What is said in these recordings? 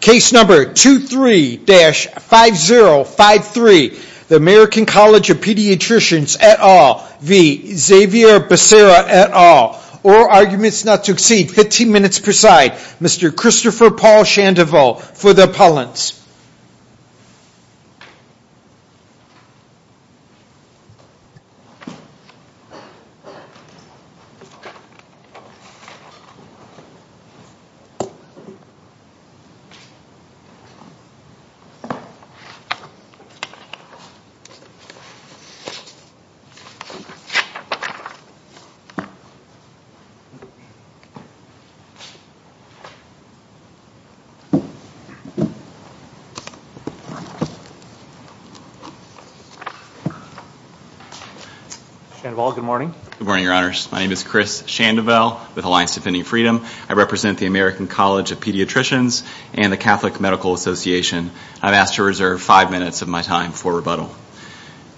Case number 23-5053, the American College of Pediatricians et al. v. Xavier Becerra et al. All arguments not to exceed 15 minutes per side. Mr. Christopher Paul Chandevaux for the appellants. Chandevaux, good morning. Good morning, your honors. My name is Chris Chandevaux with Alliance Defending Freedom. I represent the American College of Pediatricians and the Catholic Medical Association. I've asked to reserve five minutes of my time for rebuttal.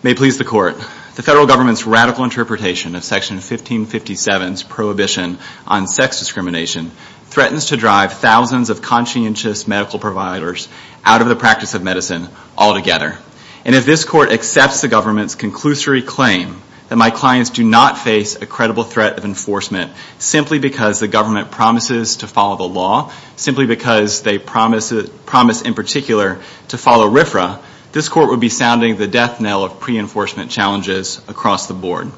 May it please the court. The federal government's radical interpretation of Section 1557's prohibition on sex discrimination threatens to drive thousands of conscientious medical providers out of the practice of medicine altogether. And if this court accepts the government's conclusory claim that my clients do not face a credible threat of enforcement simply because the government promises to follow the law, simply because they promise in particular to follow RFRA, this court would be sounding the death knell of pre-enforcement challenges across the board.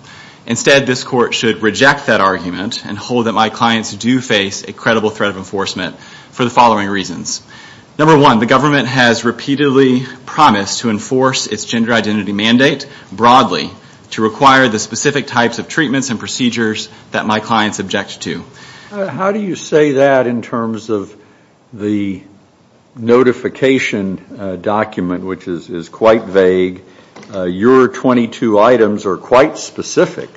Instead, this court should reject that argument and hold that my clients do face a credible threat of enforcement for the following reasons. Number one, the government has repeatedly promised to enforce its gender identity mandate broadly to require the specific types of treatments and procedures that my clients object to. How do you say that in terms of the notification document, which is quite vague? Your 22 items are quite specific.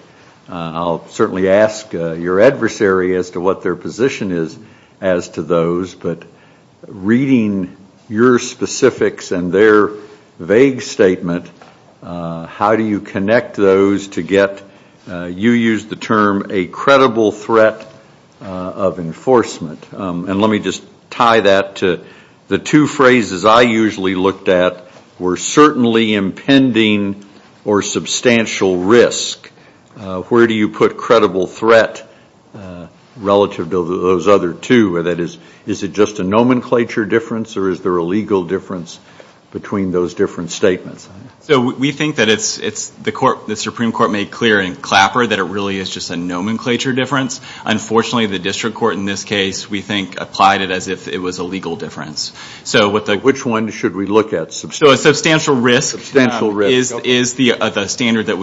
I'll certainly ask your adversary as to what their position is as to those, but reading your specifics and their vague statement, how do you connect those to get, you used the term, a credible threat of enforcement? And let me just tie that to the two phrases I usually looked at were certainly impending or substantial risk. Where do you put credible threat relative to those other two? Is it just a nomenclature difference or is there a legal difference between those different statements? We think that the Supreme Court made clear in Clapper that it really is just a nomenclature difference. Unfortunately, the district court in this case, we think, applied it as if it was a legal difference. Which one should we look at? A substantial risk is the standard that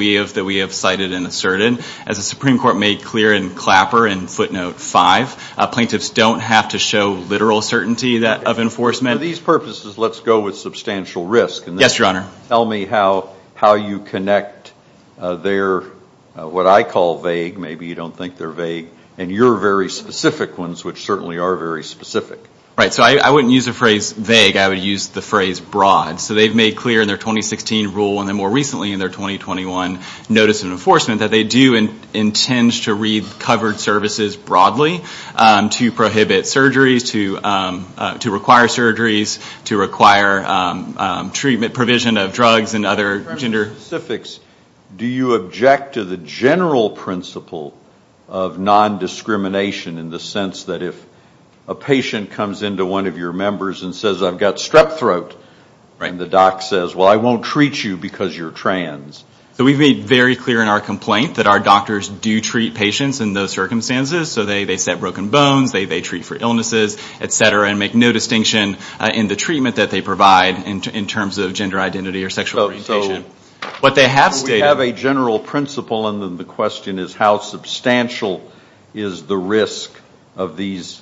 we have cited and asserted. As the Supreme Court made clear in Clapper in footnote five, plaintiffs don't have to show literal certainty of enforcement. For these purposes, let's go with substantial risk. Yes, Your Honor. Tell me how you connect their, what I call vague, maybe you don't think they're vague, and your very specific ones, which certainly are very specific. Right. So I wouldn't use the phrase vague. I would use the phrase broad. So they've made clear in their 2016 rule and then more recently in their 2021 notice of enforcement that they do intend to read covered services broadly to prohibit surgeries, to require surgeries, to require treatment provision of drugs and other gender. In terms of specifics, do you object to the general principle of nondiscrimination in the sense that if a patient comes into one of your members and says, I've got strep throat, and the doc says, well, I won't treat you because you're trans. So we've made very clear in our complaint that our doctors do treat patients in those circumstances. So they set broken bones, they treat for illnesses, et cetera, and make no distinction in the treatment that they provide in terms of gender identity or sexual orientation. So we have a general principle and then the question is how substantial is the risk of these,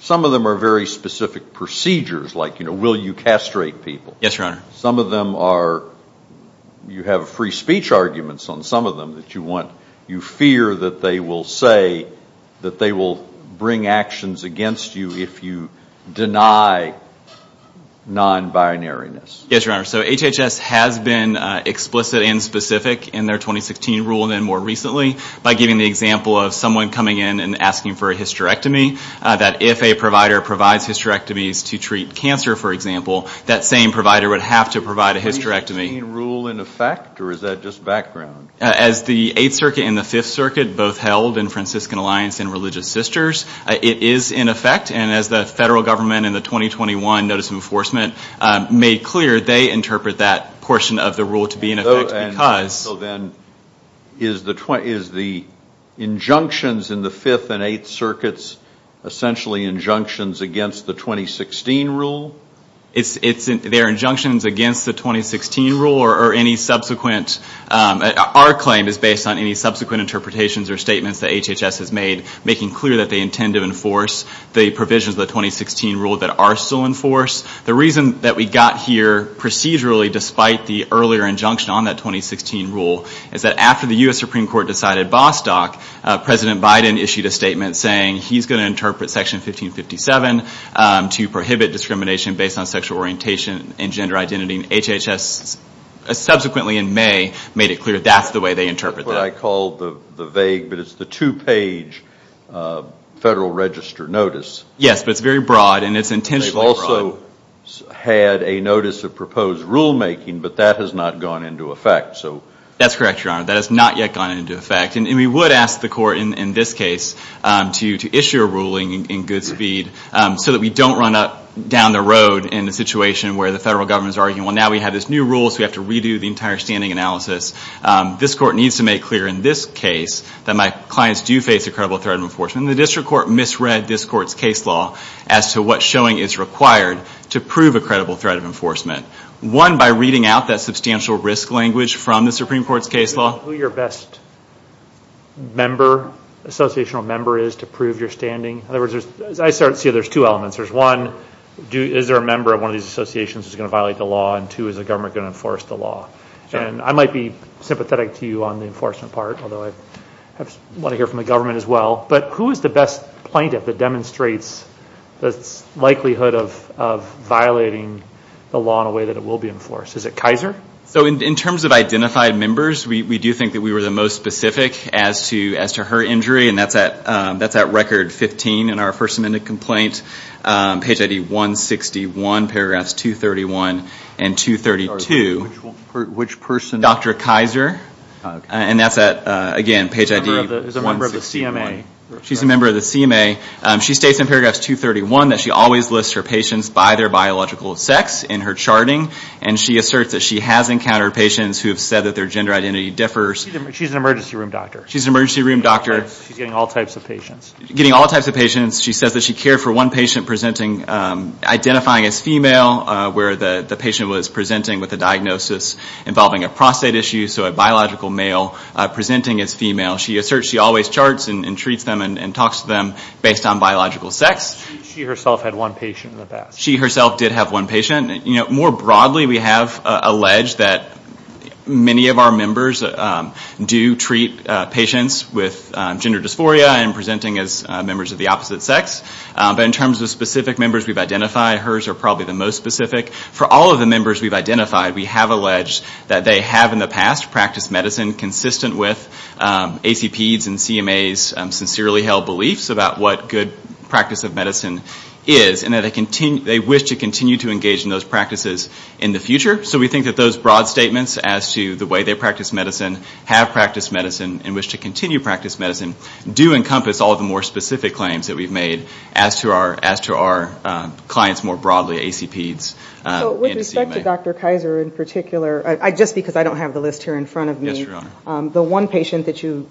some of them are very specific procedures like, you know, will you castrate people. Yes, Your Honor. Some of them are, you have free speech arguments on some of them that you want, you fear that they will say that they will bring actions against you if you deny non-binaryness. Yes, Your Honor. So HHS has been explicit and specific in their 2016 rule and then more recently by giving the example of someone coming in and asking for a hysterectomy, that if a provider provides hysterectomies to treat cancer, for example, that same provider would have to provide a hysterectomy. Is the 2016 rule in effect or is that just background? As the 8th Circuit and the 5th Circuit both held in Franciscan Alliance and Religious Sisters, it is in effect and as the federal government in the 2021 notice of enforcement made clear, they interpret that portion of the rule to be in effect because. So then is the injunctions in the 5th and 8th Circuits essentially injunctions against the 2016 rule? They are injunctions against the 2016 rule or any subsequent, our claim is based on any subsequent interpretations or statements that HHS has made making clear that they intend to enforce the provisions of the 2016 rule that are still in force. The reason that we got here procedurally despite the earlier injunction on that 2016 rule is that after the U.S. Supreme Court decided Bostock, President Biden issued a statement saying he is going to interpret Section 1557 to prohibit discrimination based on sexual orientation and gender identity. HHS subsequently in May made it clear that is the way they interpret that. I call the vague, but it is the two-page federal register notice. Yes, but it is very broad and it is intentionally broad. They also had a notice of proposed rulemaking, but that has not gone into effect. That is correct, Your Honor. That has not yet gone into effect. We would ask the court in this case to issue a ruling in good speed so that we don't run down the road in a situation where the federal government is arguing, well, now we have this new rule, so we have to redo the entire standing analysis. This court needs to make clear in this case that my clients do face a credible threat of enforcement. The district court misread this court's case law as to what showing is required to prove a credible threat of enforcement. One, by reading out that substantial risk language from the Supreme Court's case law. Who your best member, associational member is to prove your standing? I see there are two elements. One, is there a member of one of these associations who is going to violate the law? Two, is the government going to enforce the law? I might be sympathetic to you on the enforcement part, although I want to hear from the government as well. Who is the best plaintiff that demonstrates the likelihood of violating the law in a way that it will be enforced? Is it Kaiser? So in terms of identified members, we do think that we were the most specific as to her injury, and that's at record 15 in our First Amendment complaint. Page ID 161, paragraphs 231 and 232. Which person? Dr. Kaiser. And that's at, again, page ID 161. She's a member of the CMA. She's a member of the CMA. She states in paragraphs 231 that she always lists her patients by their biological sex in her charting, and she asserts that she has encountered patients who have said that their gender identity differs. She's an emergency room doctor. She's an emergency room doctor. She's getting all types of patients. Getting all types of patients. She says that she cared for one patient presenting, identifying as female, where the patient was presenting with a diagnosis involving a prostate issue, so a biological male presenting as female. She asserts she always charts and treats them and talks to them based on biological sex. She herself had one patient in the past. She herself did have one patient. More broadly, we have alleged that many of our members do treat patients with gender dysphoria and presenting as members of the opposite sex. But in terms of specific members we've identified, hers are probably the most specific. For all of the members we've identified, we have alleged that they have in the past practiced medicine consistent with ACP's and CMA's sincerely held beliefs about what good practice of medicine is, and that they wish to continue to engage in those practices in the future. So we think that those broad statements as to the way they practice medicine, have practiced medicine, and wish to continue to practice medicine, do encompass all of the more specific claims that we've made as to our clients more broadly, ACP's and CMA's. With respect to Dr. Kaiser in particular, just because I don't have the list here in front of me, the one patient that you've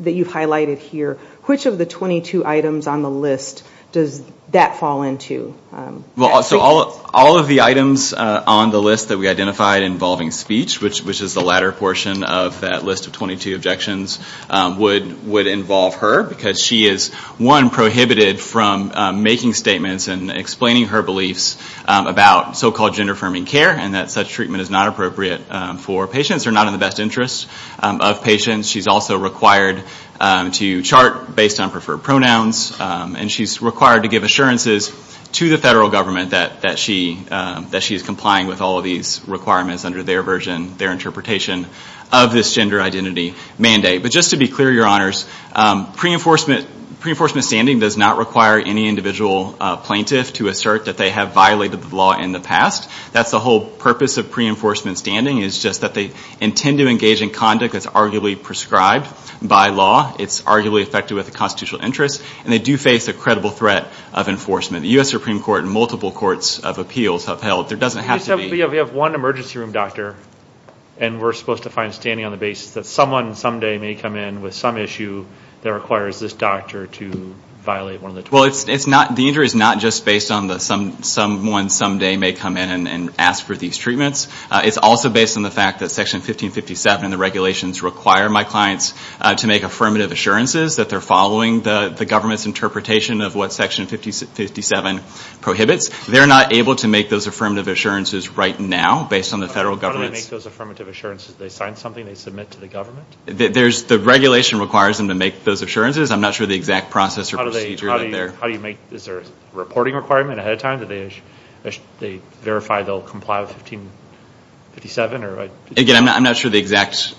highlighted here, which of the 22 items on the list does that fall into? All of the items on the list that we identified involving speech, which is the latter portion of that list of 22 objections, would involve her. Because she is, one, prohibited from making statements and explaining her beliefs about so-called gender-affirming care, and that such treatment is not appropriate for patients, or not in the best interest of patients. She's also required to chart based on preferred pronouns, and she's required to give assurances to the federal government that she is complying with all of these requirements under their version, their interpretation of this gender identity mandate. But just to be clear, Your Honors, pre-enforcement standing does not require any individual plaintiff to assert that they have violated the law in the past. That's the whole purpose of pre-enforcement standing, is just that they intend to engage in conduct that's arguably prescribed by law. It's arguably affected with a constitutional interest, and they do face a credible threat of enforcement. The U.S. Supreme Court and multiple courts of appeals have held. There doesn't have to be. We have one emergency room doctor, and we're supposed to find standing on the basis that someone someday may come in with some issue that requires this doctor to violate one of the 22. Well, the injury is not just based on that someone someday may come in and ask for these treatments. It's also based on the fact that Section 1557 and the regulations require my clients to make affirmative assurances that they're following the government's interpretation of what Section 1557 prohibits. They're not able to make those affirmative assurances right now based on the federal government's... How do they make those affirmative assurances? Do they sign something they submit to the government? The regulation requires them to make those assurances. I'm not sure the exact process or procedure out there. Is there a reporting requirement ahead of time? Do they verify they'll comply with 1557? Again, I'm not sure the exact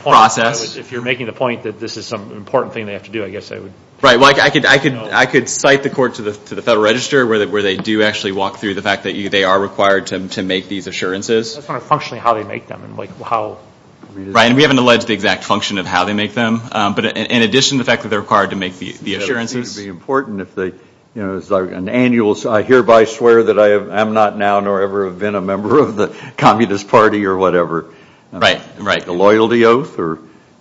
process. If you're making the point that this is some important thing they have to do, I guess I would... Right. I could cite the court to the Federal Register where they do actually walk through the fact that they are required to make these assurances. I'm just wondering functionally how they make them and how... Right. We haven't alleged the exact function of how they make them, but in addition to the fact that they're required to make the assurances... It would be important if they... An annual... I hereby swear that I am not now nor ever have been a member of the Communist Party or whatever. Right. Right. A loyalty oath or...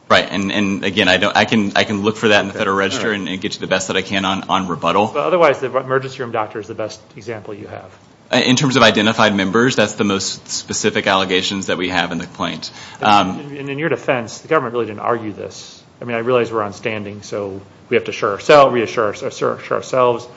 Right. Again, I can look for that in the Federal Register and get you the best that I can on rebuttal. Otherwise, the emergency room doctor is the best example you have. In terms of identified members, that's the most specific allegations that we have in the complaint. In your defense, the government really didn't argue this. I realize we're on standing, so we have to reassure ourselves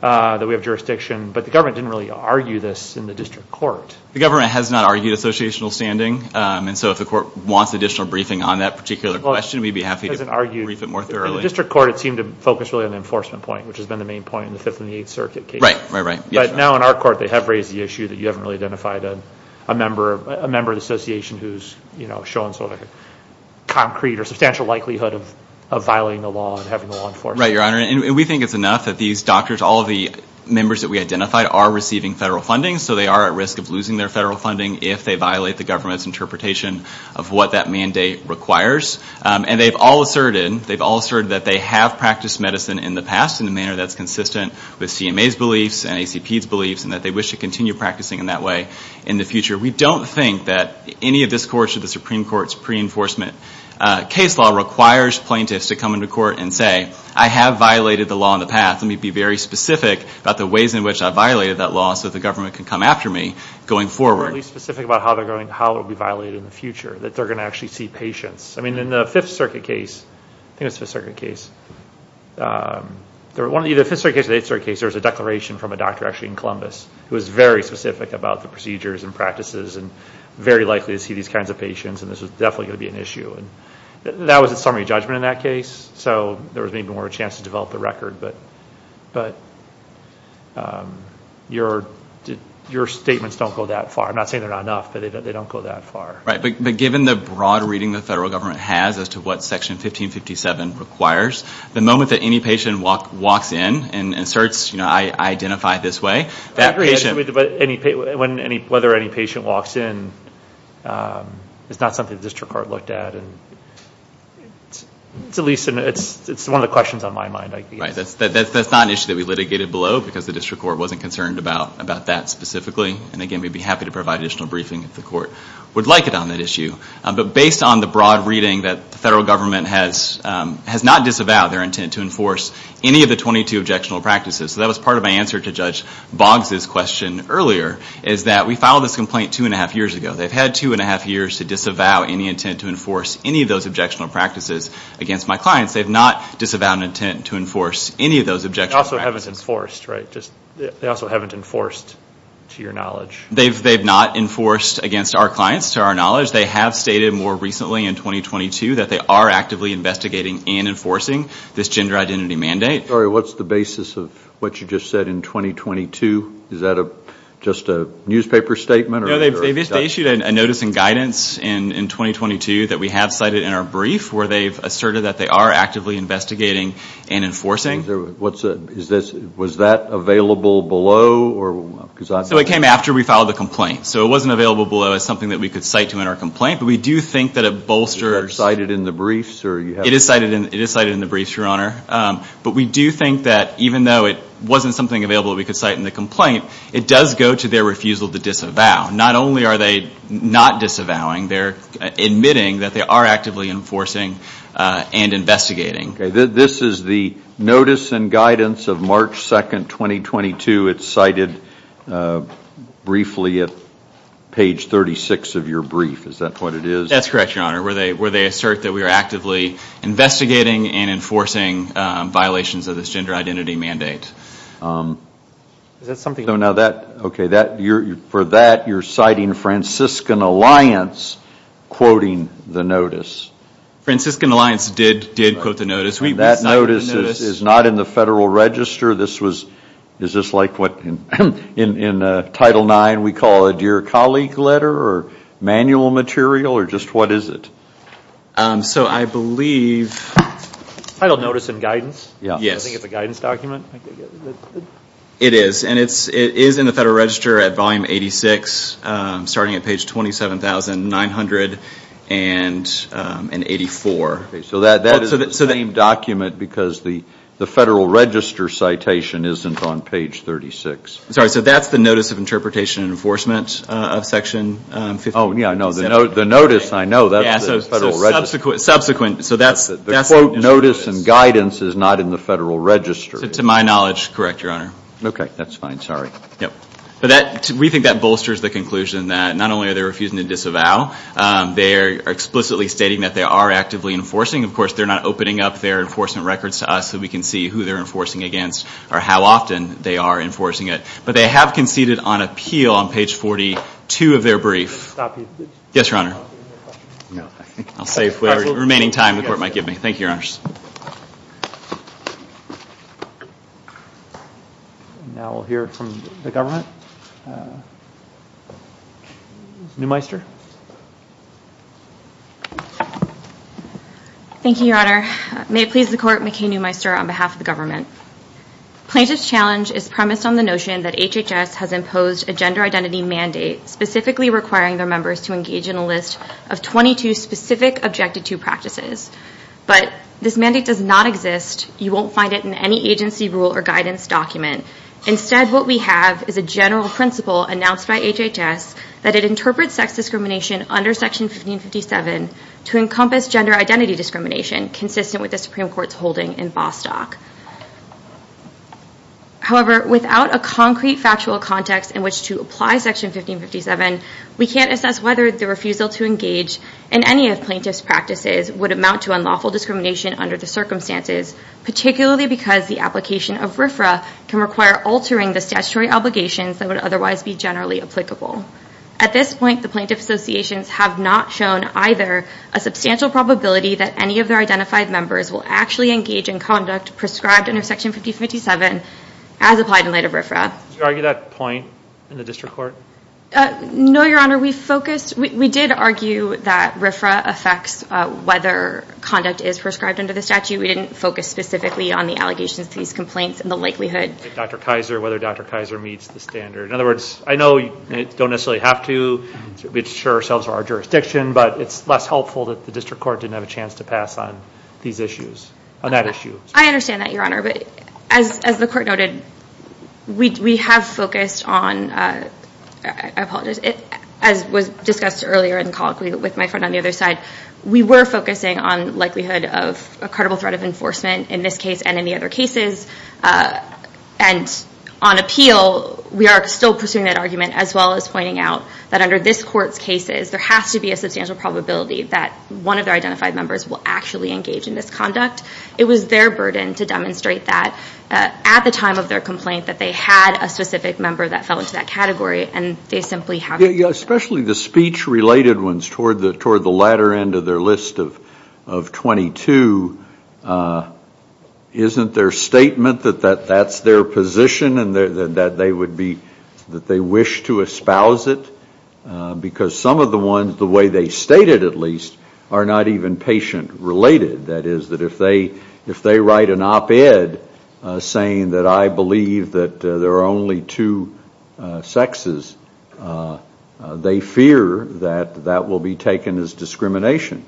that we have jurisdiction, but the government didn't really argue this in the district court. The government has not argued associational standing, and so if the court wants additional briefing on that particular question, we'd be happy to brief it more thoroughly. In the district court, it seemed to focus really on the enforcement point, which has been the main point in the Fifth and the Eighth Circuit case. Right. Right, right. But now in our court, they have raised the issue that you haven't really identified a member of the association who's shown sort of a concrete or substantial likelihood of violating the law and having the law enforced. Right, Your Honor. And we think it's enough that these doctors, all of the members that we identified, are receiving federal funding, so they are at risk of losing their federal funding if they violate the government's interpretation of what that mandate requires. And they've all asserted, they've all asserted that they have practiced medicine in the past in a manner that's consistent with CMA's beliefs and ACP's beliefs, and that they wish to continue practicing in that way in the future. We don't think that any of this court or the Supreme Court's pre-enforcement case law requires plaintiffs to come into court and say, I have violated the law in the past. Let me be very specific about the ways in which I violated that law so the government can come after me going forward. Or at least specific about how it will be violated in the future, that they're going to actually see patients. I mean, in the Fifth Circuit case, I think it was the Fifth Circuit case, either the Fifth Circuit case or the Eighth Circuit case, there was a declaration from a doctor actually in Columbus who was very specific about the procedures and practices and very likely to see these kinds of patients and this was definitely going to be an issue. And that was a summary judgment in that case, so there was maybe more of a chance to develop the record. But your statements don't go that far. I'm not saying they're not enough, but they don't go that far. Right, but given the broad reading the federal government has as to what Section 1557 requires, the moment that any patient walks in and starts, you know, I identify this way, that patient... Whether any patient walks in, it's not something the district court looked at. It's one of the questions on my mind. Right, that's not an issue that we litigated below because the district court wasn't concerned about that specifically. And again, we'd be happy to provide additional briefing if the court would like it on that issue. But based on the broad reading that the federal government has not disavowed their intent to enforce any of the 22 objectionable practices, so that was part of my answer to Judge Boggs' question earlier, is that we filed this complaint 2½ years ago. They've had 2½ years to disavow any intent to enforce any of those objectionable practices against my clients. They've not disavowed an intent to enforce any of those objectionable practices. They also haven't enforced, right? They also haven't enforced, to your knowledge. They've not enforced against our clients, to our knowledge. They have stated more recently in 2022 that they are actively investigating and enforcing this gender identity mandate. I'm sorry, what's the basis of what you just said in 2022? Is that just a newspaper statement? No, they issued a notice and guidance in 2022 that we have cited in our brief where they've asserted that they are actively investigating and enforcing. Was that available below? So it came after we filed the complaint. So it wasn't available below as something that we could cite to in our complaint, but we do think that it bolsters... Is that cited in the briefs? It is cited in the briefs, Your Honor. But we do think that even though it wasn't something available that we could cite in the complaint, it does go to their refusal to disavow. Not only are they not disavowing, they're admitting that they are actively enforcing and investigating. Okay, this is the notice and guidance of March 2, 2022. It's cited briefly at page 36 of your brief. Is that what it is? That's correct, Your Honor, where they assert that we are actively investigating and enforcing violations of this gender identity mandate. Is that something... Okay, for that, you're citing Franciscan Alliance quoting the notice. Franciscan Alliance did quote the notice. That notice is not in the Federal Register. Is this like what in Title IX we call a dear colleague letter or manual material or just what is it? So I believe... Title notice and guidance? Yes. I think it's a guidance document. It is, and it is in the Federal Register at volume 86, starting at page 27,984. So that is the same document because the Federal Register citation isn't on page 36. Sorry, so that's the notice of interpretation and enforcement of Section 57? Oh, yeah, I know. The notice, I know, that's the Federal Register. Subsequent, so that's... The quote notice and guidance is not in the Federal Register. To my knowledge, correct, Your Honor. Okay, that's fine. Sorry. We think that bolsters the conclusion that not only are they refusing to disavow, they are explicitly stating that they are actively enforcing. Of course, they're not opening up their enforcement records to us so we can see who they're enforcing against or how often they are enforcing it. But they have conceded on appeal on page 42 of their brief. Yes, Your Honor. I'll save whatever remaining time the Court might give me. Thank you, Your Honors. Now we'll hear from the government. Neumeister. Thank you, Your Honor. May it please the Court, McKay Neumeister on behalf of the government. Plaintiff's challenge is premised on the notion that HHS has imposed a gender identity mandate specifically requiring their members to engage in a list of 22 specific Objective 2 practices. But this mandate does not exist. You won't find it in any agency rule or guidance document. Instead, what we have is a general principle announced by HHS that it interprets sex discrimination under Section 1557 to encompass gender identity discrimination consistent with the Supreme Court's holding in Bostock. However, without a concrete factual context in which to apply Section 1557, we can't assess whether the refusal to engage in any of plaintiff's practices would amount to unlawful discrimination under the circumstances, particularly because the application of RFRA can require altering the statutory obligations that would otherwise be generally applicable. At this point, the plaintiff's associations have not shown either a substantial probability that any of their identified members will actually engage in conduct prescribed under Section 1557 as applied in light of RFRA. Did you argue that point in the district court? No, Your Honor. We did argue that RFRA affects whether conduct is prescribed under the statute. We didn't focus specifically on the allegations to these complaints and the likelihood. Dr. Kaiser, whether Dr. Kaiser meets the standard. In other words, I know you don't necessarily have to assure ourselves of our jurisdiction, but it's less helpful that the district court didn't have a chance to pass on these issues, on that issue. I understand that, Your Honor, but as the court noted, we have focused on... I apologize. As was discussed earlier in the call with my friend on the other side, we were focusing on likelihood of a credible threat of enforcement in this case and in the other cases. And on appeal, we are still pursuing that argument as well as pointing out that under this court's cases, there has to be a substantial probability that one of their identified members will actually engage in this conduct. It was their burden to demonstrate that at the time of their complaint that they had a specific member that fell into that category, and they simply haven't. Especially the speech-related ones toward the latter end of their list of 22. Isn't their statement that that's their position and that they wish to espouse it? Because some of the ones, the way they stated at least, are not even patient-related. That is, if they write an op-ed saying that I believe that there are only two sexes, they fear that that will be taken as discrimination.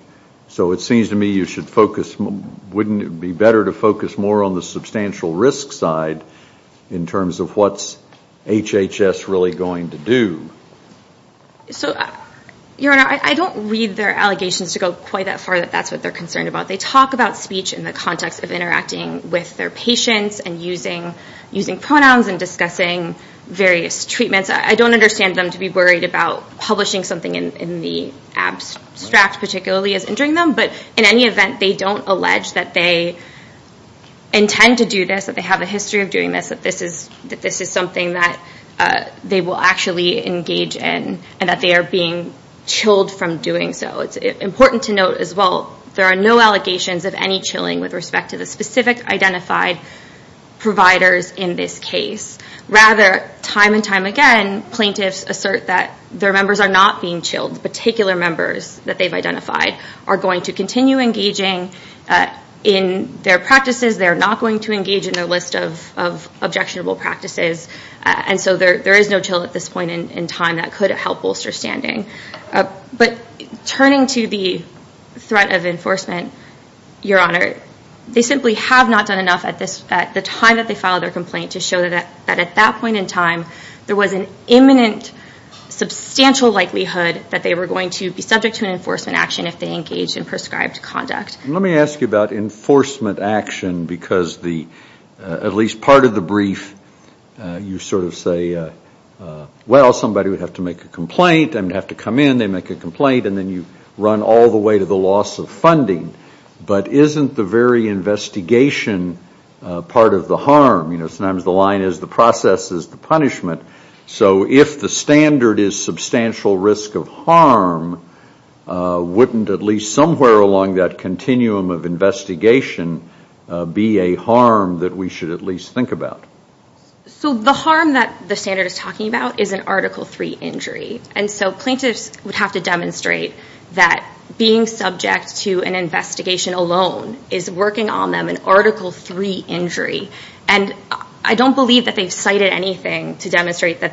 So it seems to me you should focus... Wouldn't it be better to focus more on the substantial risk side in terms of what's HHS really going to do? Your Honor, I don't read their allegations to go quite that far that that's what they're concerned about. They talk about speech in the context of interacting with their patients and using pronouns and discussing various treatments. I don't understand them to be worried about publishing something in the abstract, particularly as injuring them. But in any event, they don't allege that they intend to do this, that they have a history of doing this, that this is something that they will actually engage in and that they are being chilled from doing so. It's important to note as well, there are no allegations of any chilling with respect to the specific identified providers in this case. Rather, time and time again, plaintiffs assert that their members are not being chilled. Particular members that they've identified are going to continue engaging in their practices. They're not going to engage in their list of objectionable practices. And so there is no chill at this point in time that could help bolster standing. But turning to the threat of enforcement, Your Honor, they simply have not done enough at the time that they filed their complaint to show that at that point in time, there was an imminent substantial likelihood that they were going to be subject to an enforcement action if they engaged in prescribed conduct. Let me ask you about enforcement action because at least part of the brief, you sort of say, well, somebody would have to make a complaint. I'm going to have to come in. They make a complaint. And then you run all the way to the loss of funding. But isn't the very investigation part of the harm? Sometimes the line is the process is the punishment. So if the standard is substantial risk of harm, wouldn't at least somewhere along that continuum of investigation be a harm that we should at least think about? So the harm that the standard is talking about is an Article III injury. And so plaintiffs would have to demonstrate that being subject to an investigation alone is working on them an Article III injury. And I don't believe that they've cited anything to demonstrate that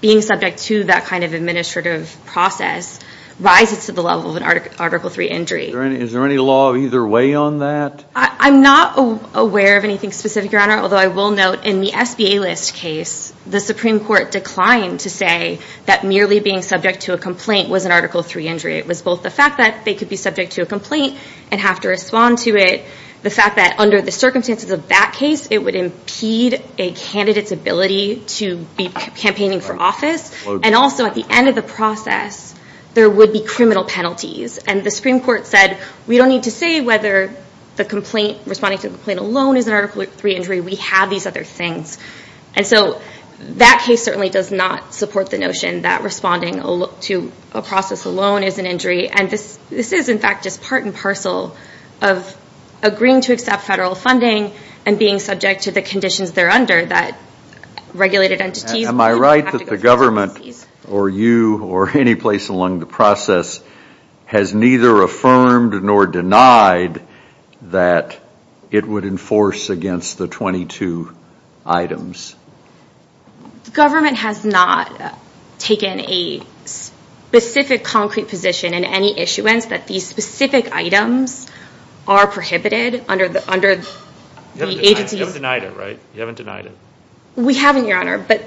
being subject to that kind of administrative process rises to the level of an Article III injury. Is there any law either way on that? I'm not aware of anything specific, Your Honor, although I will note in the SBA list case, the Supreme Court declined to say that merely being subject to a complaint was an Article III injury. It was both the fact that they could be subject to a complaint and have to respond to it, the fact that under the circumstances of that case, it would impede a candidate's ability to be campaigning for office, and also at the end of the process, there would be criminal penalties. And the Supreme Court said, we don't need to say whether the complaint, responding to the complaint alone, is an Article III injury. We have these other things. And so that case certainly does not support the notion that responding to a process alone is an injury. And this is, in fact, just part and parcel of agreeing to accept federal funding and being subject to the conditions thereunder that regulated entities would have to go through. Am I right that the government, or you, or any place along the process, has neither affirmed nor denied that it would enforce against the 22 items? The government has not taken a specific concrete position in any issuance that these specific items are prohibited under the agency's... You haven't denied it, right? You haven't denied it. We haven't, Your Honor. But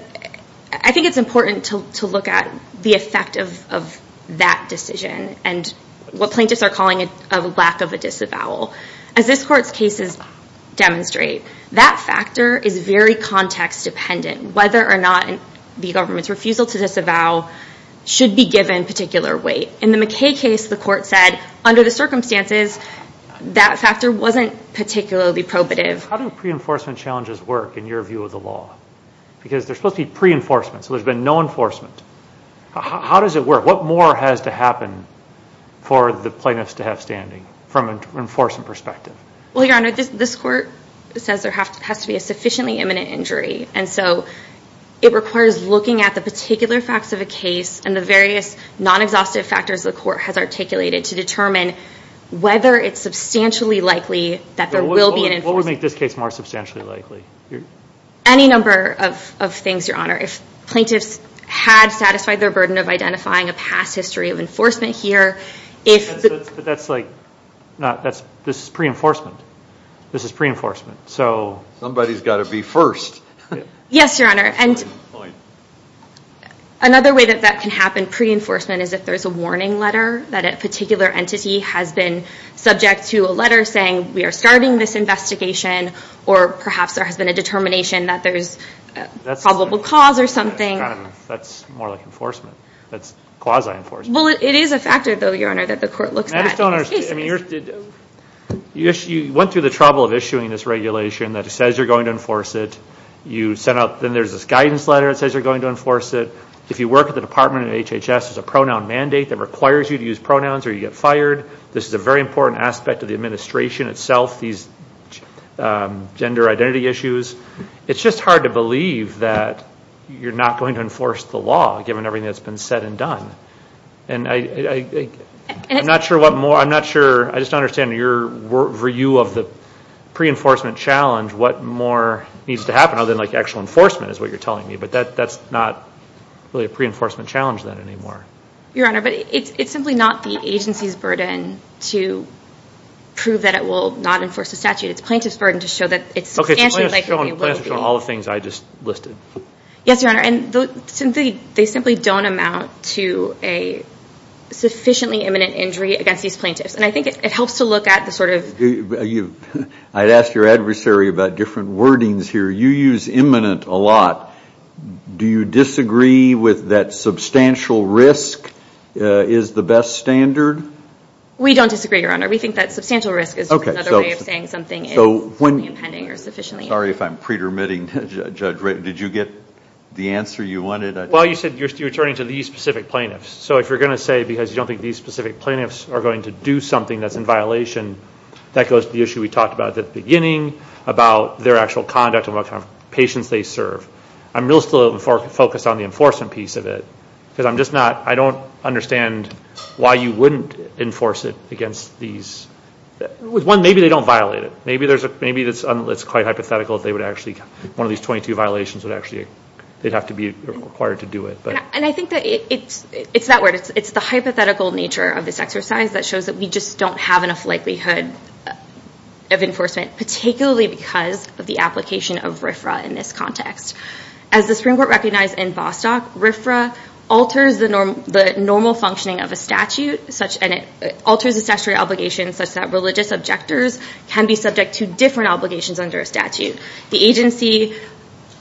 I think it's important to look at the effect of that decision and what plaintiffs are calling a lack of a disavowal. As this Court's cases demonstrate, that factor is very context-dependent. Whether or not the government's refusal to disavow should be given particular weight. In the McKay case, the Court said, under the circumstances, that factor wasn't particularly probative. How do pre-enforcement challenges work in your view of the law? Because they're supposed to be pre-enforcement, so there's been no enforcement. How does it work? What more has to happen for the plaintiffs to have standing from an enforcement perspective? Well, Your Honor, this Court says there has to be a sufficiently imminent injury, and so it requires looking at the particular facts of a case and the various non-exhaustive factors the Court has articulated to determine whether it's substantially likely that there will be an enforcement. What would make this case more substantially likely? Any number of things, Your Honor. If plaintiffs had satisfied their burden of identifying a past history of enforcement here, if... But that's like, this is pre-enforcement. This is pre-enforcement, so... Somebody's got to be first. Yes, Your Honor, and another way that that can happen pre-enforcement is if there's a warning letter that a particular entity has been subject to a letter saying, we are starting this investigation, or perhaps there has been a determination that there's probable cause or something. That's more like enforcement. That's quasi-enforcement. Well, it is a factor, though, Your Honor, that the Court looks at. I just don't understand. You went through the trouble of issuing this regulation that says you're going to enforce it. You sent out, then there's this guidance letter that says you're going to enforce it. If you work at the Department of HHS, there's a pronoun mandate that requires you to use pronouns or you get fired. This is a very important aspect of the administration itself, these gender identity issues. It's just hard to believe that you're not going to enforce the law given everything that's been said and done. And I'm not sure what more... I'm not sure... I just don't understand your view of the pre-enforcement challenge, what more needs to happen, other than like actual enforcement is what you're telling me. But that's not really a pre-enforcement challenge then anymore. Your Honor, but it's simply not the agency's burden to prove that it will not enforce the statute. It's plaintiff's burden to show that it's substantially likely... Okay, so plaintiffs are showing all the things I just listed. Yes, Your Honor. And they simply don't amount to a sufficiently imminent injury against these plaintiffs. And I think it helps to look at the sort of... I'd ask your adversary about different wordings here. You use imminent a lot. Do you disagree with that substantial risk is the best standard? We don't disagree, Your Honor. We think that substantial risk is another way of saying something is only impending or sufficiently imminent. Sorry if I'm pre-permitting, Judge. Did you get the answer you wanted? Well, you said you're turning to these specific plaintiffs. So if you're going to say, because you don't think these specific plaintiffs are going to do something that's in violation, that goes to the issue we talked about at the beginning about their actual conduct and what kind of patients they serve. I'm real still focused on the enforcement piece of it because I'm just not... I don't understand why you wouldn't enforce it against these... With one, maybe they don't violate it. Maybe it's quite hypothetical if they would actually... One of these 22 violations would actually... They'd have to be required to do it. And I think that it's that word. It's the hypothetical nature of this exercise that shows that we just don't have enough likelihood of enforcement, particularly because of the application of RFRA in this context. As the Supreme Court recognized in Bostock, RFRA alters the normal functioning of a statute, and it alters the statutory obligations such that religious objectors can be subject to different obligations under a statute. The agency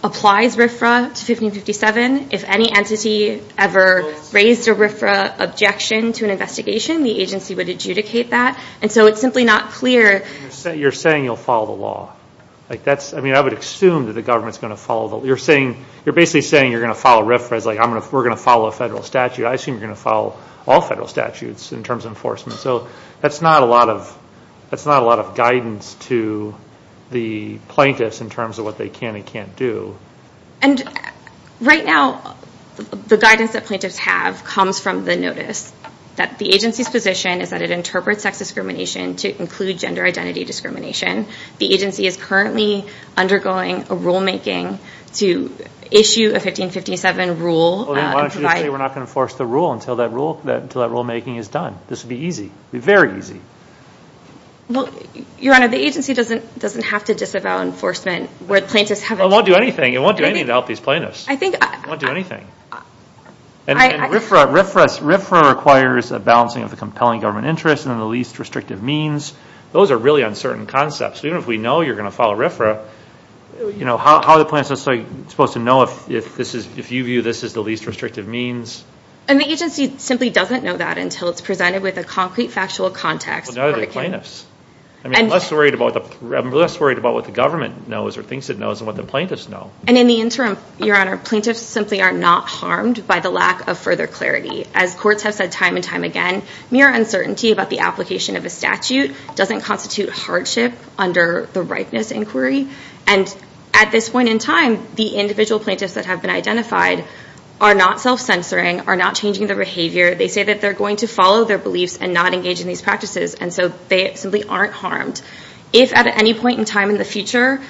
applies RFRA to 1557. If any entity ever raised a RFRA objection to an investigation, the agency would adjudicate that. And so it's simply not clear... You're saying you'll follow the law. I mean, I would assume that the government's going to follow the law. You're basically saying you're going to follow RFRA as like we're going to follow a federal statute. I assume you're going to follow all federal statutes in terms of enforcement. So that's not a lot of guidance to the plaintiffs in terms of what they can and can't do. And right now, the guidance that plaintiffs have comes from the notice that the agency's position is that it interprets sex discrimination to include gender identity discrimination. The agency is currently undergoing a rulemaking to issue a 1557 rule... Why don't you just say we're not going to enforce the rule until that rulemaking is done? This would be easy, very easy. Your Honor, the agency doesn't have to disavow enforcement... It won't do anything. It won't do anything to help these plaintiffs. It won't do anything. And RFRA requires a balancing of the compelling government interest and the least restrictive means. Those are really uncertain concepts. Even if we know you're going to follow RFRA, how are the plaintiffs supposed to know if you view this as the least restrictive means? And the agency simply doesn't know that until it's presented with a concrete factual context... Well, neither do the plaintiffs. I'm less worried about what the government knows or thinks it knows than what the plaintiffs know. And in the interim, Your Honor, the plaintiffs simply are not harmed by the lack of further clarity. As courts have said time and time again, mere uncertainty about the application of a statute doesn't constitute hardship under the ripeness inquiry. And at this point in time, the individual plaintiffs that have been identified are not self-censoring, are not changing their behavior. They say that they're going to follow their beliefs and not engage in these practices, and so they simply aren't harmed. If at any point in time in the future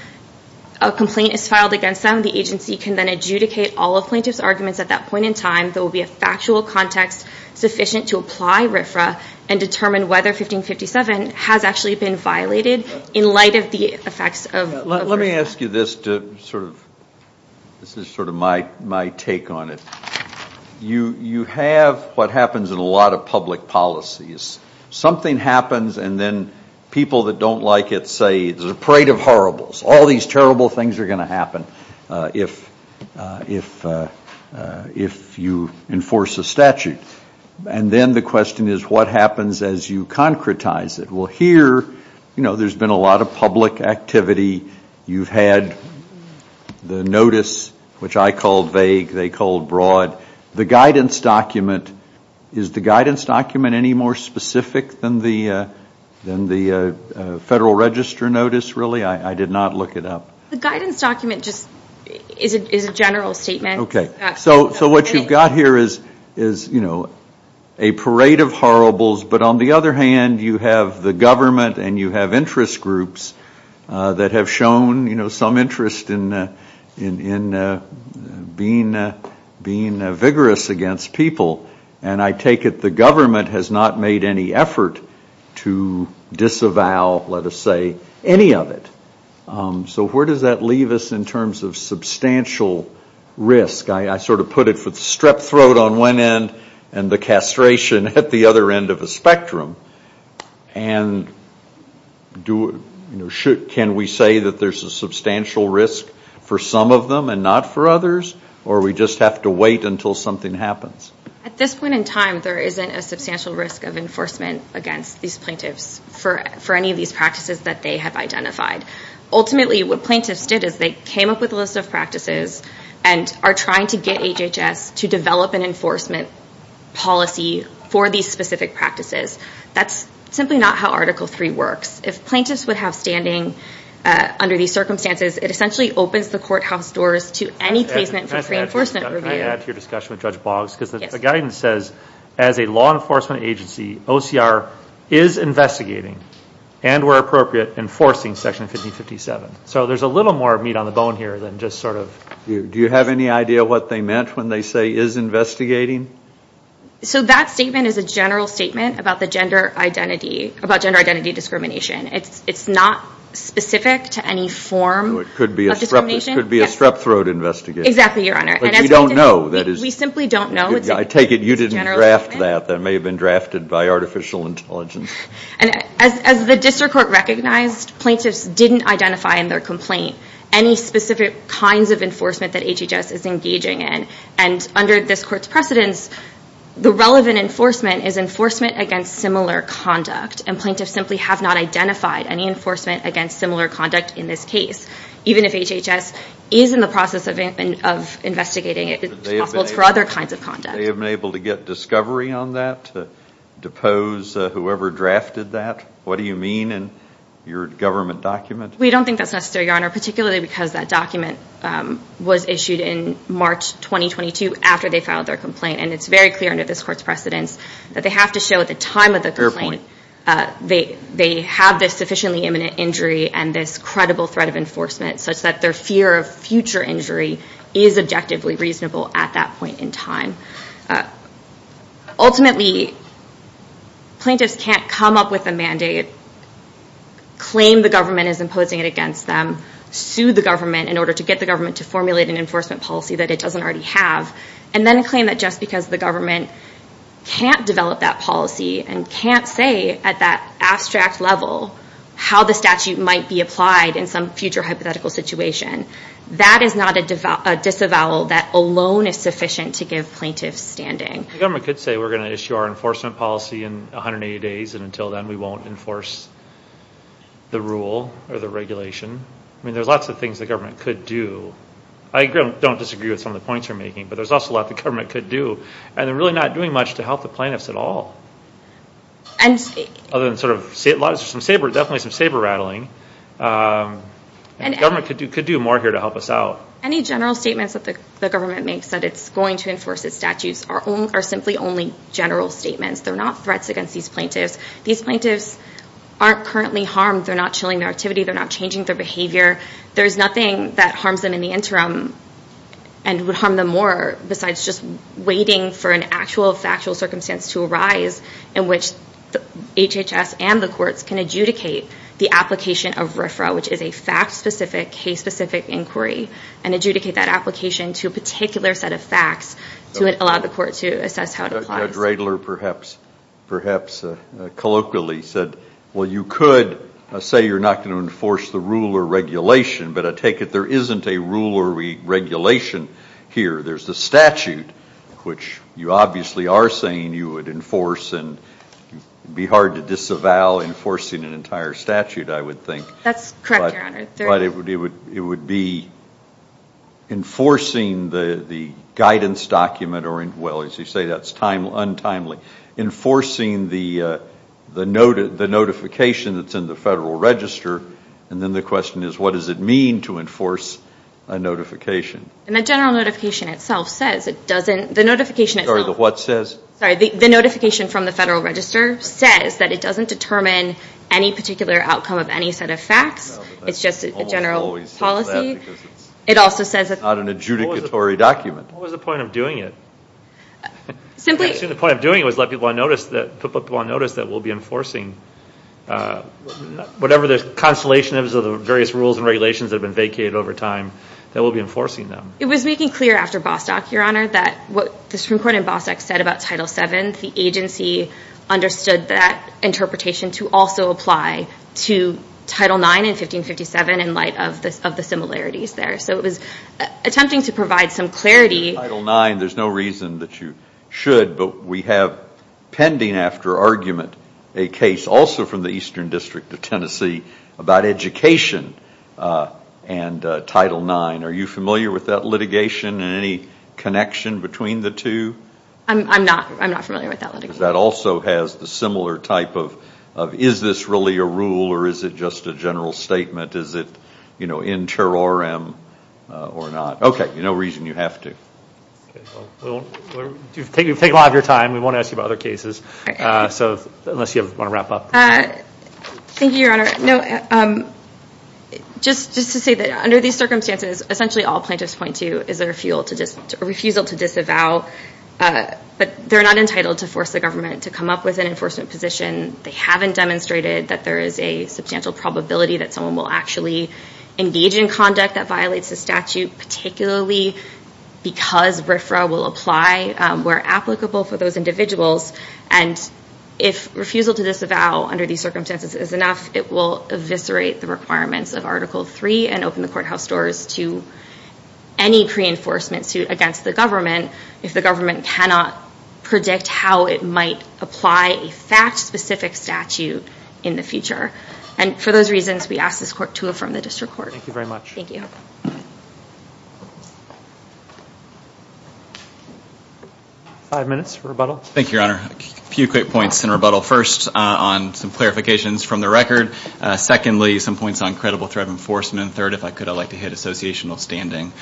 a complaint is filed against them, the agency can then adjudicate all of plaintiffs' arguments. At that point in time, there will be a factual context sufficient to apply RFRA and determine whether 1557 has actually been violated in light of the effects of RFRA. Let me ask you this to sort of... This is sort of my take on it. You have what happens in a lot of public policies. Something happens, and then people that don't like it say, it's a parade of horribles. All these terrible things are going to happen if you enforce a statute. And then the question is, what happens as you concretize it? Well, here, you know, there's been a lot of public activity. You've had the notice, which I called vague, they called broad. The guidance document, is the guidance document any more specific than the Federal Register notice, really? I did not look it up. The guidance document just is a general statement. Okay, so what you've got here is a parade of horribles, but on the other hand, you have the government and you have interest groups that have shown some interest in being vigorous against people. And I take it the government has not made any effort to disavow, let us say, any of it. So where does that leave us in terms of substantial risk? I sort of put it for the strep throat on one end and the castration at the other end of the spectrum. And can we say that there's a substantial risk for some of them and not for others? Or we just have to wait until something happens? At this point in time, there isn't a substantial risk of enforcement against these plaintiffs for any of these practices that they have identified. Ultimately, what plaintiffs did is they came up with a list of practices and are trying to get HHS to develop an enforcement policy for these specific practices. That's simply not how Article III works. If plaintiffs would have standing under these circumstances, it essentially opens the courthouse doors to any placement for pre-enforcement review. Can I add to your discussion with Judge Boggs? Because the guidance says, as a law enforcement agency, OCR is investigating and, where appropriate, enforcing Section 1557. So there's a little more meat on the bone here than just sort of... Do you have any idea what they meant when they say, is investigating? So that statement is a general statement about gender identity discrimination. It's not specific to any form of discrimination. It could be a strep throat investigation. Exactly, Your Honor. But we don't know. We simply don't know. I take it you didn't draft that. That may have been drafted by artificial intelligence. As the District Court recognized, plaintiffs didn't identify in their complaint any specific kinds of enforcement that HHS is engaging in. And under this Court's precedence, the relevant enforcement is enforcement against similar conduct. And plaintiffs simply have not identified any enforcement against similar conduct in this case. Even if HHS is in the process of investigating, it's possible it's for other kinds of conduct. Have they been able to get discovery on that? Depose whoever drafted that? What do you mean in your government document? We don't think that's necessary, Your Honor, particularly because that document was issued in March 2022 after they filed their complaint. And it's very clear under this Court's precedence that they have to show at the time of the complaint they have this sufficiently imminent injury and this credible threat of enforcement such that their fear of future injury is objectively reasonable at that point in time. Ultimately, plaintiffs can't come up with a mandate, claim the government is imposing it against them, sue the government in order to get the government to formulate an enforcement policy that it doesn't already have, and then claim that just because the government can't develop that policy and can't say at that abstract level how the statute might be applied in some future hypothetical situation, that is not a disavowal that alone is sufficient to give plaintiffs standing. The government could say we're going to issue our enforcement policy in 180 days and until then we won't enforce the rule or the regulation. I mean, there's lots of things the government could do. I don't disagree with some of the points you're making, but there's also a lot the government could do. And they're really not doing much to help the plaintiffs at all. There's definitely some saber-rattling. The government could do more here to help us out. Any general statements that the government makes that it's going to enforce its statutes are simply only general statements. They're not threats against these plaintiffs. These plaintiffs aren't currently harmed. They're not chilling their activity. They're not changing their behavior. There's nothing that harms them in the interim and would harm them more besides just waiting for an actual factual circumstance to arise in which HHS and the courts can adjudicate the application of RFRA, which is a fact-specific, case-specific inquiry, and adjudicate that application to a particular set of facts to allow the court to assess how it applies. Judge Radler perhaps colloquially said, well, you could say you're not going to enforce the rule or regulation, but I take it there isn't a rule or regulation here. There's the statute, which you obviously are saying you would enforce and it would be hard to disavow enforcing an entire statute, I would think. That's correct, Your Honor. But it would be enforcing the guidance document or, well, as you say, that's untimely, enforcing the notification that's in the Federal Register, and then the question is, what does it mean to enforce a notification? And the general notification itself says it doesn't, the notification itself. Sorry, the what says? Sorry, the notification from the Federal Register says that it doesn't determine any particular outcome of any set of facts. It's just a general policy. It also says that. It's not an adjudicatory document. What was the point of doing it? Simply. I assume the point of doing it was to let people on notice that we'll be enforcing whatever the constellation is of the various rules and regulations that have been vacated over time, that we'll be enforcing them. It was making clear after Bostock, Your Honor, that what the Supreme Court in Bostock said about Title VII, the agency understood that interpretation to also apply to Title IX in 1557 in light of the similarities there. So it was attempting to provide some clarity. Title IX, there's no reason that you should, but we have pending after argument a case also from the Eastern District of Tennessee about education and Title IX. Are you familiar with that litigation and any connection between the two? I'm not. I'm not familiar with that litigation. That also has the similar type of is this really a rule or is it just a general statement? Is it inter-RM or not? Okay. No reason you have to. We've taken a lot of your time. We won't ask you about other cases, unless you want to wrap up. Thank you, Your Honor. No, just to say that under these circumstances, essentially all plaintiffs point to is a refusal to disavow, but they're not entitled to force the government to come up with an enforcement position. They haven't demonstrated that there is a substantial probability that someone will actually engage in conduct that violates the statute, particularly because RFRA will apply where applicable for those individuals. And if refusal to disavow under these circumstances is enough, it will eviscerate the requirements of Article III and open the courthouse doors to any pre-enforcement suit against the government if the government cannot predict how it might apply a fact-specific statute in the future. And for those reasons, we ask this court to affirm the district court. Thank you very much. Thank you. Five minutes for rebuttal. Thank you, Your Honor. A few quick points in rebuttal. First, on some clarifications from the record. Secondly, some points on credible threat enforcement. Third, if I could, I'd like to hit associational standing.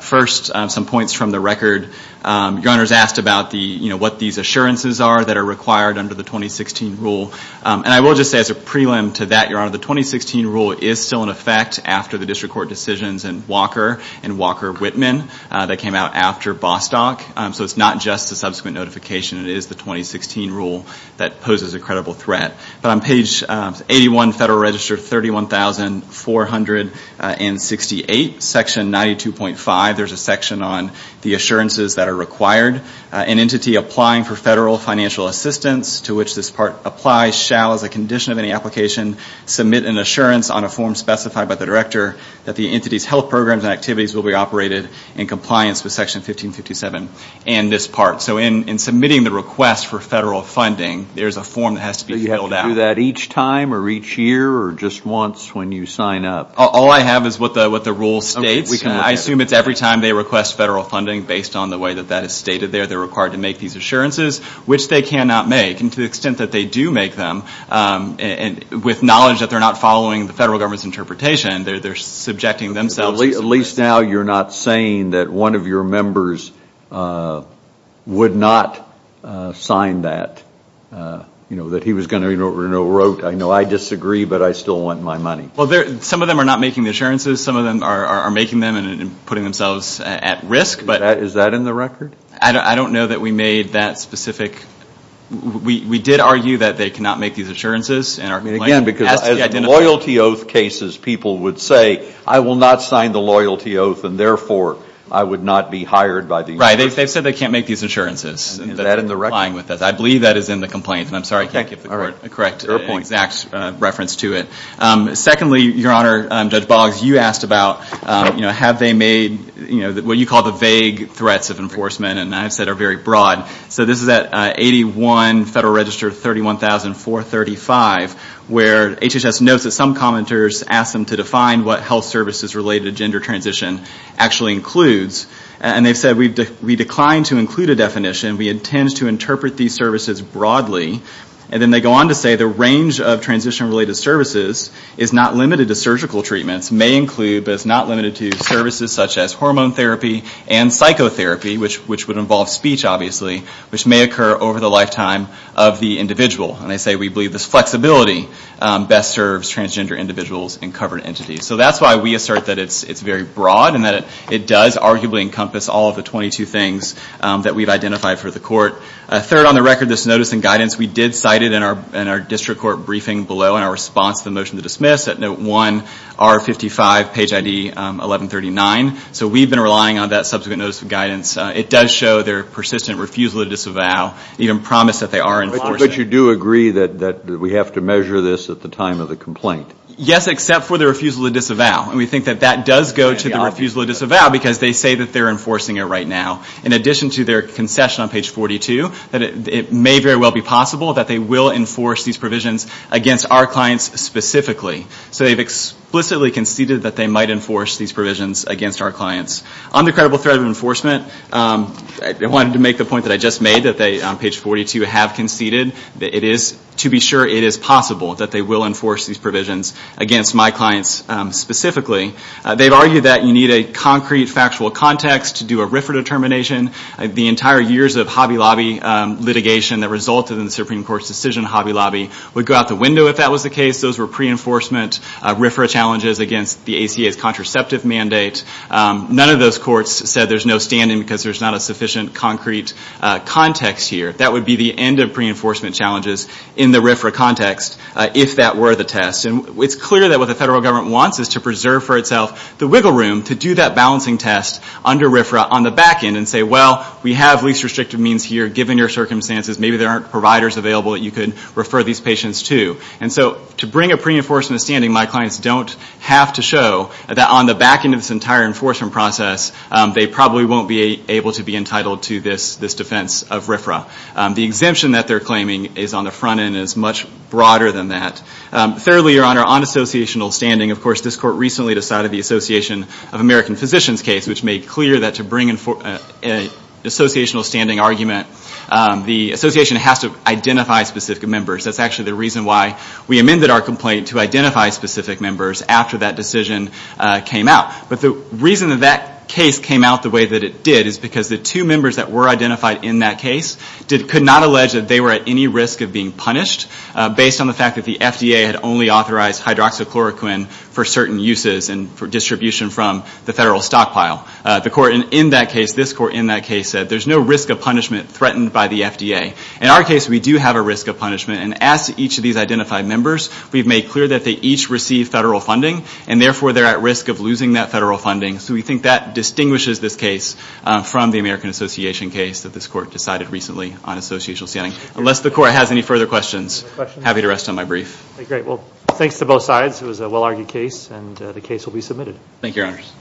First, some points from the record. Your Honor's asked about what these assurances are that are required under the 2016 rule. And I will just say as a prelim to that, Your Honor, the 2016 rule is still in effect after the district court decisions in Walker and Walker-Whitman that came out after Bostock. So it's not just a subsequent notification. It is the 2016 rule that poses a credible threat. But on page 81, Federal Register 31468, Section 92.5, there's a section on the assurances that are required. An entity applying for federal financial assistance to which this part applies shall, as a condition of any application, submit an assurance on a form specified by the director that the entity's health programs and activities will be operated in compliance with Section 1557 and this part. So in submitting the request for federal funding, there's a form that has to be filled out. Do you have to do that each time or each year or just once when you sign up? All I have is what the rule states. I assume it's every time they request federal funding based on the way that that is stated there. They're required to make these assurances, which they cannot make. And to the extent that they do make them, with knowledge that they're not following the federal government's interpretation, they're subjecting themselves. At least now you're not saying that one of your members would not sign that, that he was going to enrote, I know I disagree, but I still want my money. Some of them are not making the assurances. Some of them are making them and putting themselves at risk. Is that in the record? I don't know that we made that specific. We did argue that they cannot make these assurances. Again, because as loyalty oath cases, people would say, I will not sign the loyalty oath, and therefore I would not be hired by the U.S. Right. They've said they can't make these assurances. Is that in the record? I believe that is in the complaint, and I'm sorry I can't give the correct exact reference to it. Secondly, Your Honor, Judge Boggs, you asked about have they made what you call the vague threats of enforcement, and I've said are very broad. So this is at 81 Federal Register 31435, where HHS notes that some commenters ask them to define what health services related to gender transition actually includes. And they've said, we decline to include a definition. We intend to interpret these services broadly. And then they go on to say, the range of transition-related services is not limited to surgical treatments, may include but is not limited to services such as hormone therapy and psychotherapy, which would involve speech, obviously, which may occur over the lifetime of the individual. And they say, we believe this flexibility best serves transgender individuals and covered entities. So that's why we assert that it's very broad and that it does arguably encompass all of the 22 things that we've identified for the court. Third, on the record, this notice and guidance, we did cite it in our district court briefing below in our response to the motion to dismiss at note 1, R55, page ID 1139. So we've been relying on that subsequent notice of guidance. It does show their persistent refusal to disavow, even promise that they are enforcing. But you do agree that we have to measure this at the time of the complaint? Yes, except for the refusal to disavow. And we think that that does go to the refusal to disavow because they say that they're enforcing it right now. In addition to their concession on page 42, that it may very well be possible that they will enforce these provisions against our clients specifically. So they've explicitly conceded that they might enforce these provisions against our clients. On the credible threat of enforcement, I wanted to make the point that I just made that they, on page 42, have conceded that it is to be sure it is possible that they will enforce these provisions against my clients specifically. They've argued that you need a concrete, factual context to do a RFRA determination. The entire years of Hobby Lobby litigation that resulted in the Supreme Court's decision on Hobby Lobby would go out the window if that was the case. Those were pre-enforcement RFRA challenges against the ACA's contraceptive mandate. None of those courts said there's no standing because there's not a sufficient concrete context here. That would be the end of pre-enforcement challenges in the RFRA context if that were the test. And it's clear that what the federal government wants is to preserve for itself the wiggle room to do that balancing test under RFRA on the back end and say, well, we have least restrictive means here given your circumstances. Maybe there aren't providers available that you could refer these patients to. And so to bring a pre-enforcement standing, my clients don't have to show that on the back end of this entire enforcement process, they probably won't be able to be entitled to this defense of RFRA. The exemption that they're claiming is on the front end and is much broader than that. Thirdly, Your Honor, on associational standing, of course, this court recently decided the Association of American Physicians case, which made clear that to bring an associational standing argument, the association has to identify specific members. That's actually the reason why we amended our complaint to identify specific members after that decision came out. But the reason that that case came out the way that it did is because the two members that were identified in that case could not allege that they were at any risk of being punished based on the fact that the FDA had only authorized hydroxychloroquine for certain uses and for distribution from the federal stockpile. The court in that case, this court in that case, said there's no risk of punishment threatened by the FDA. In our case, we do have a risk of punishment, and as to each of these identified members, we've made clear that they each receive federal funding, and therefore they're at risk of losing that federal funding. So we think that distinguishes this case from the American Association case that this court decided recently on associational standing. Unless the court has any further questions, I'm happy to rest on my brief. Great. Well, thanks to both sides. It was a well-argued case, and the case will be submitted. Thank you, Your Honors.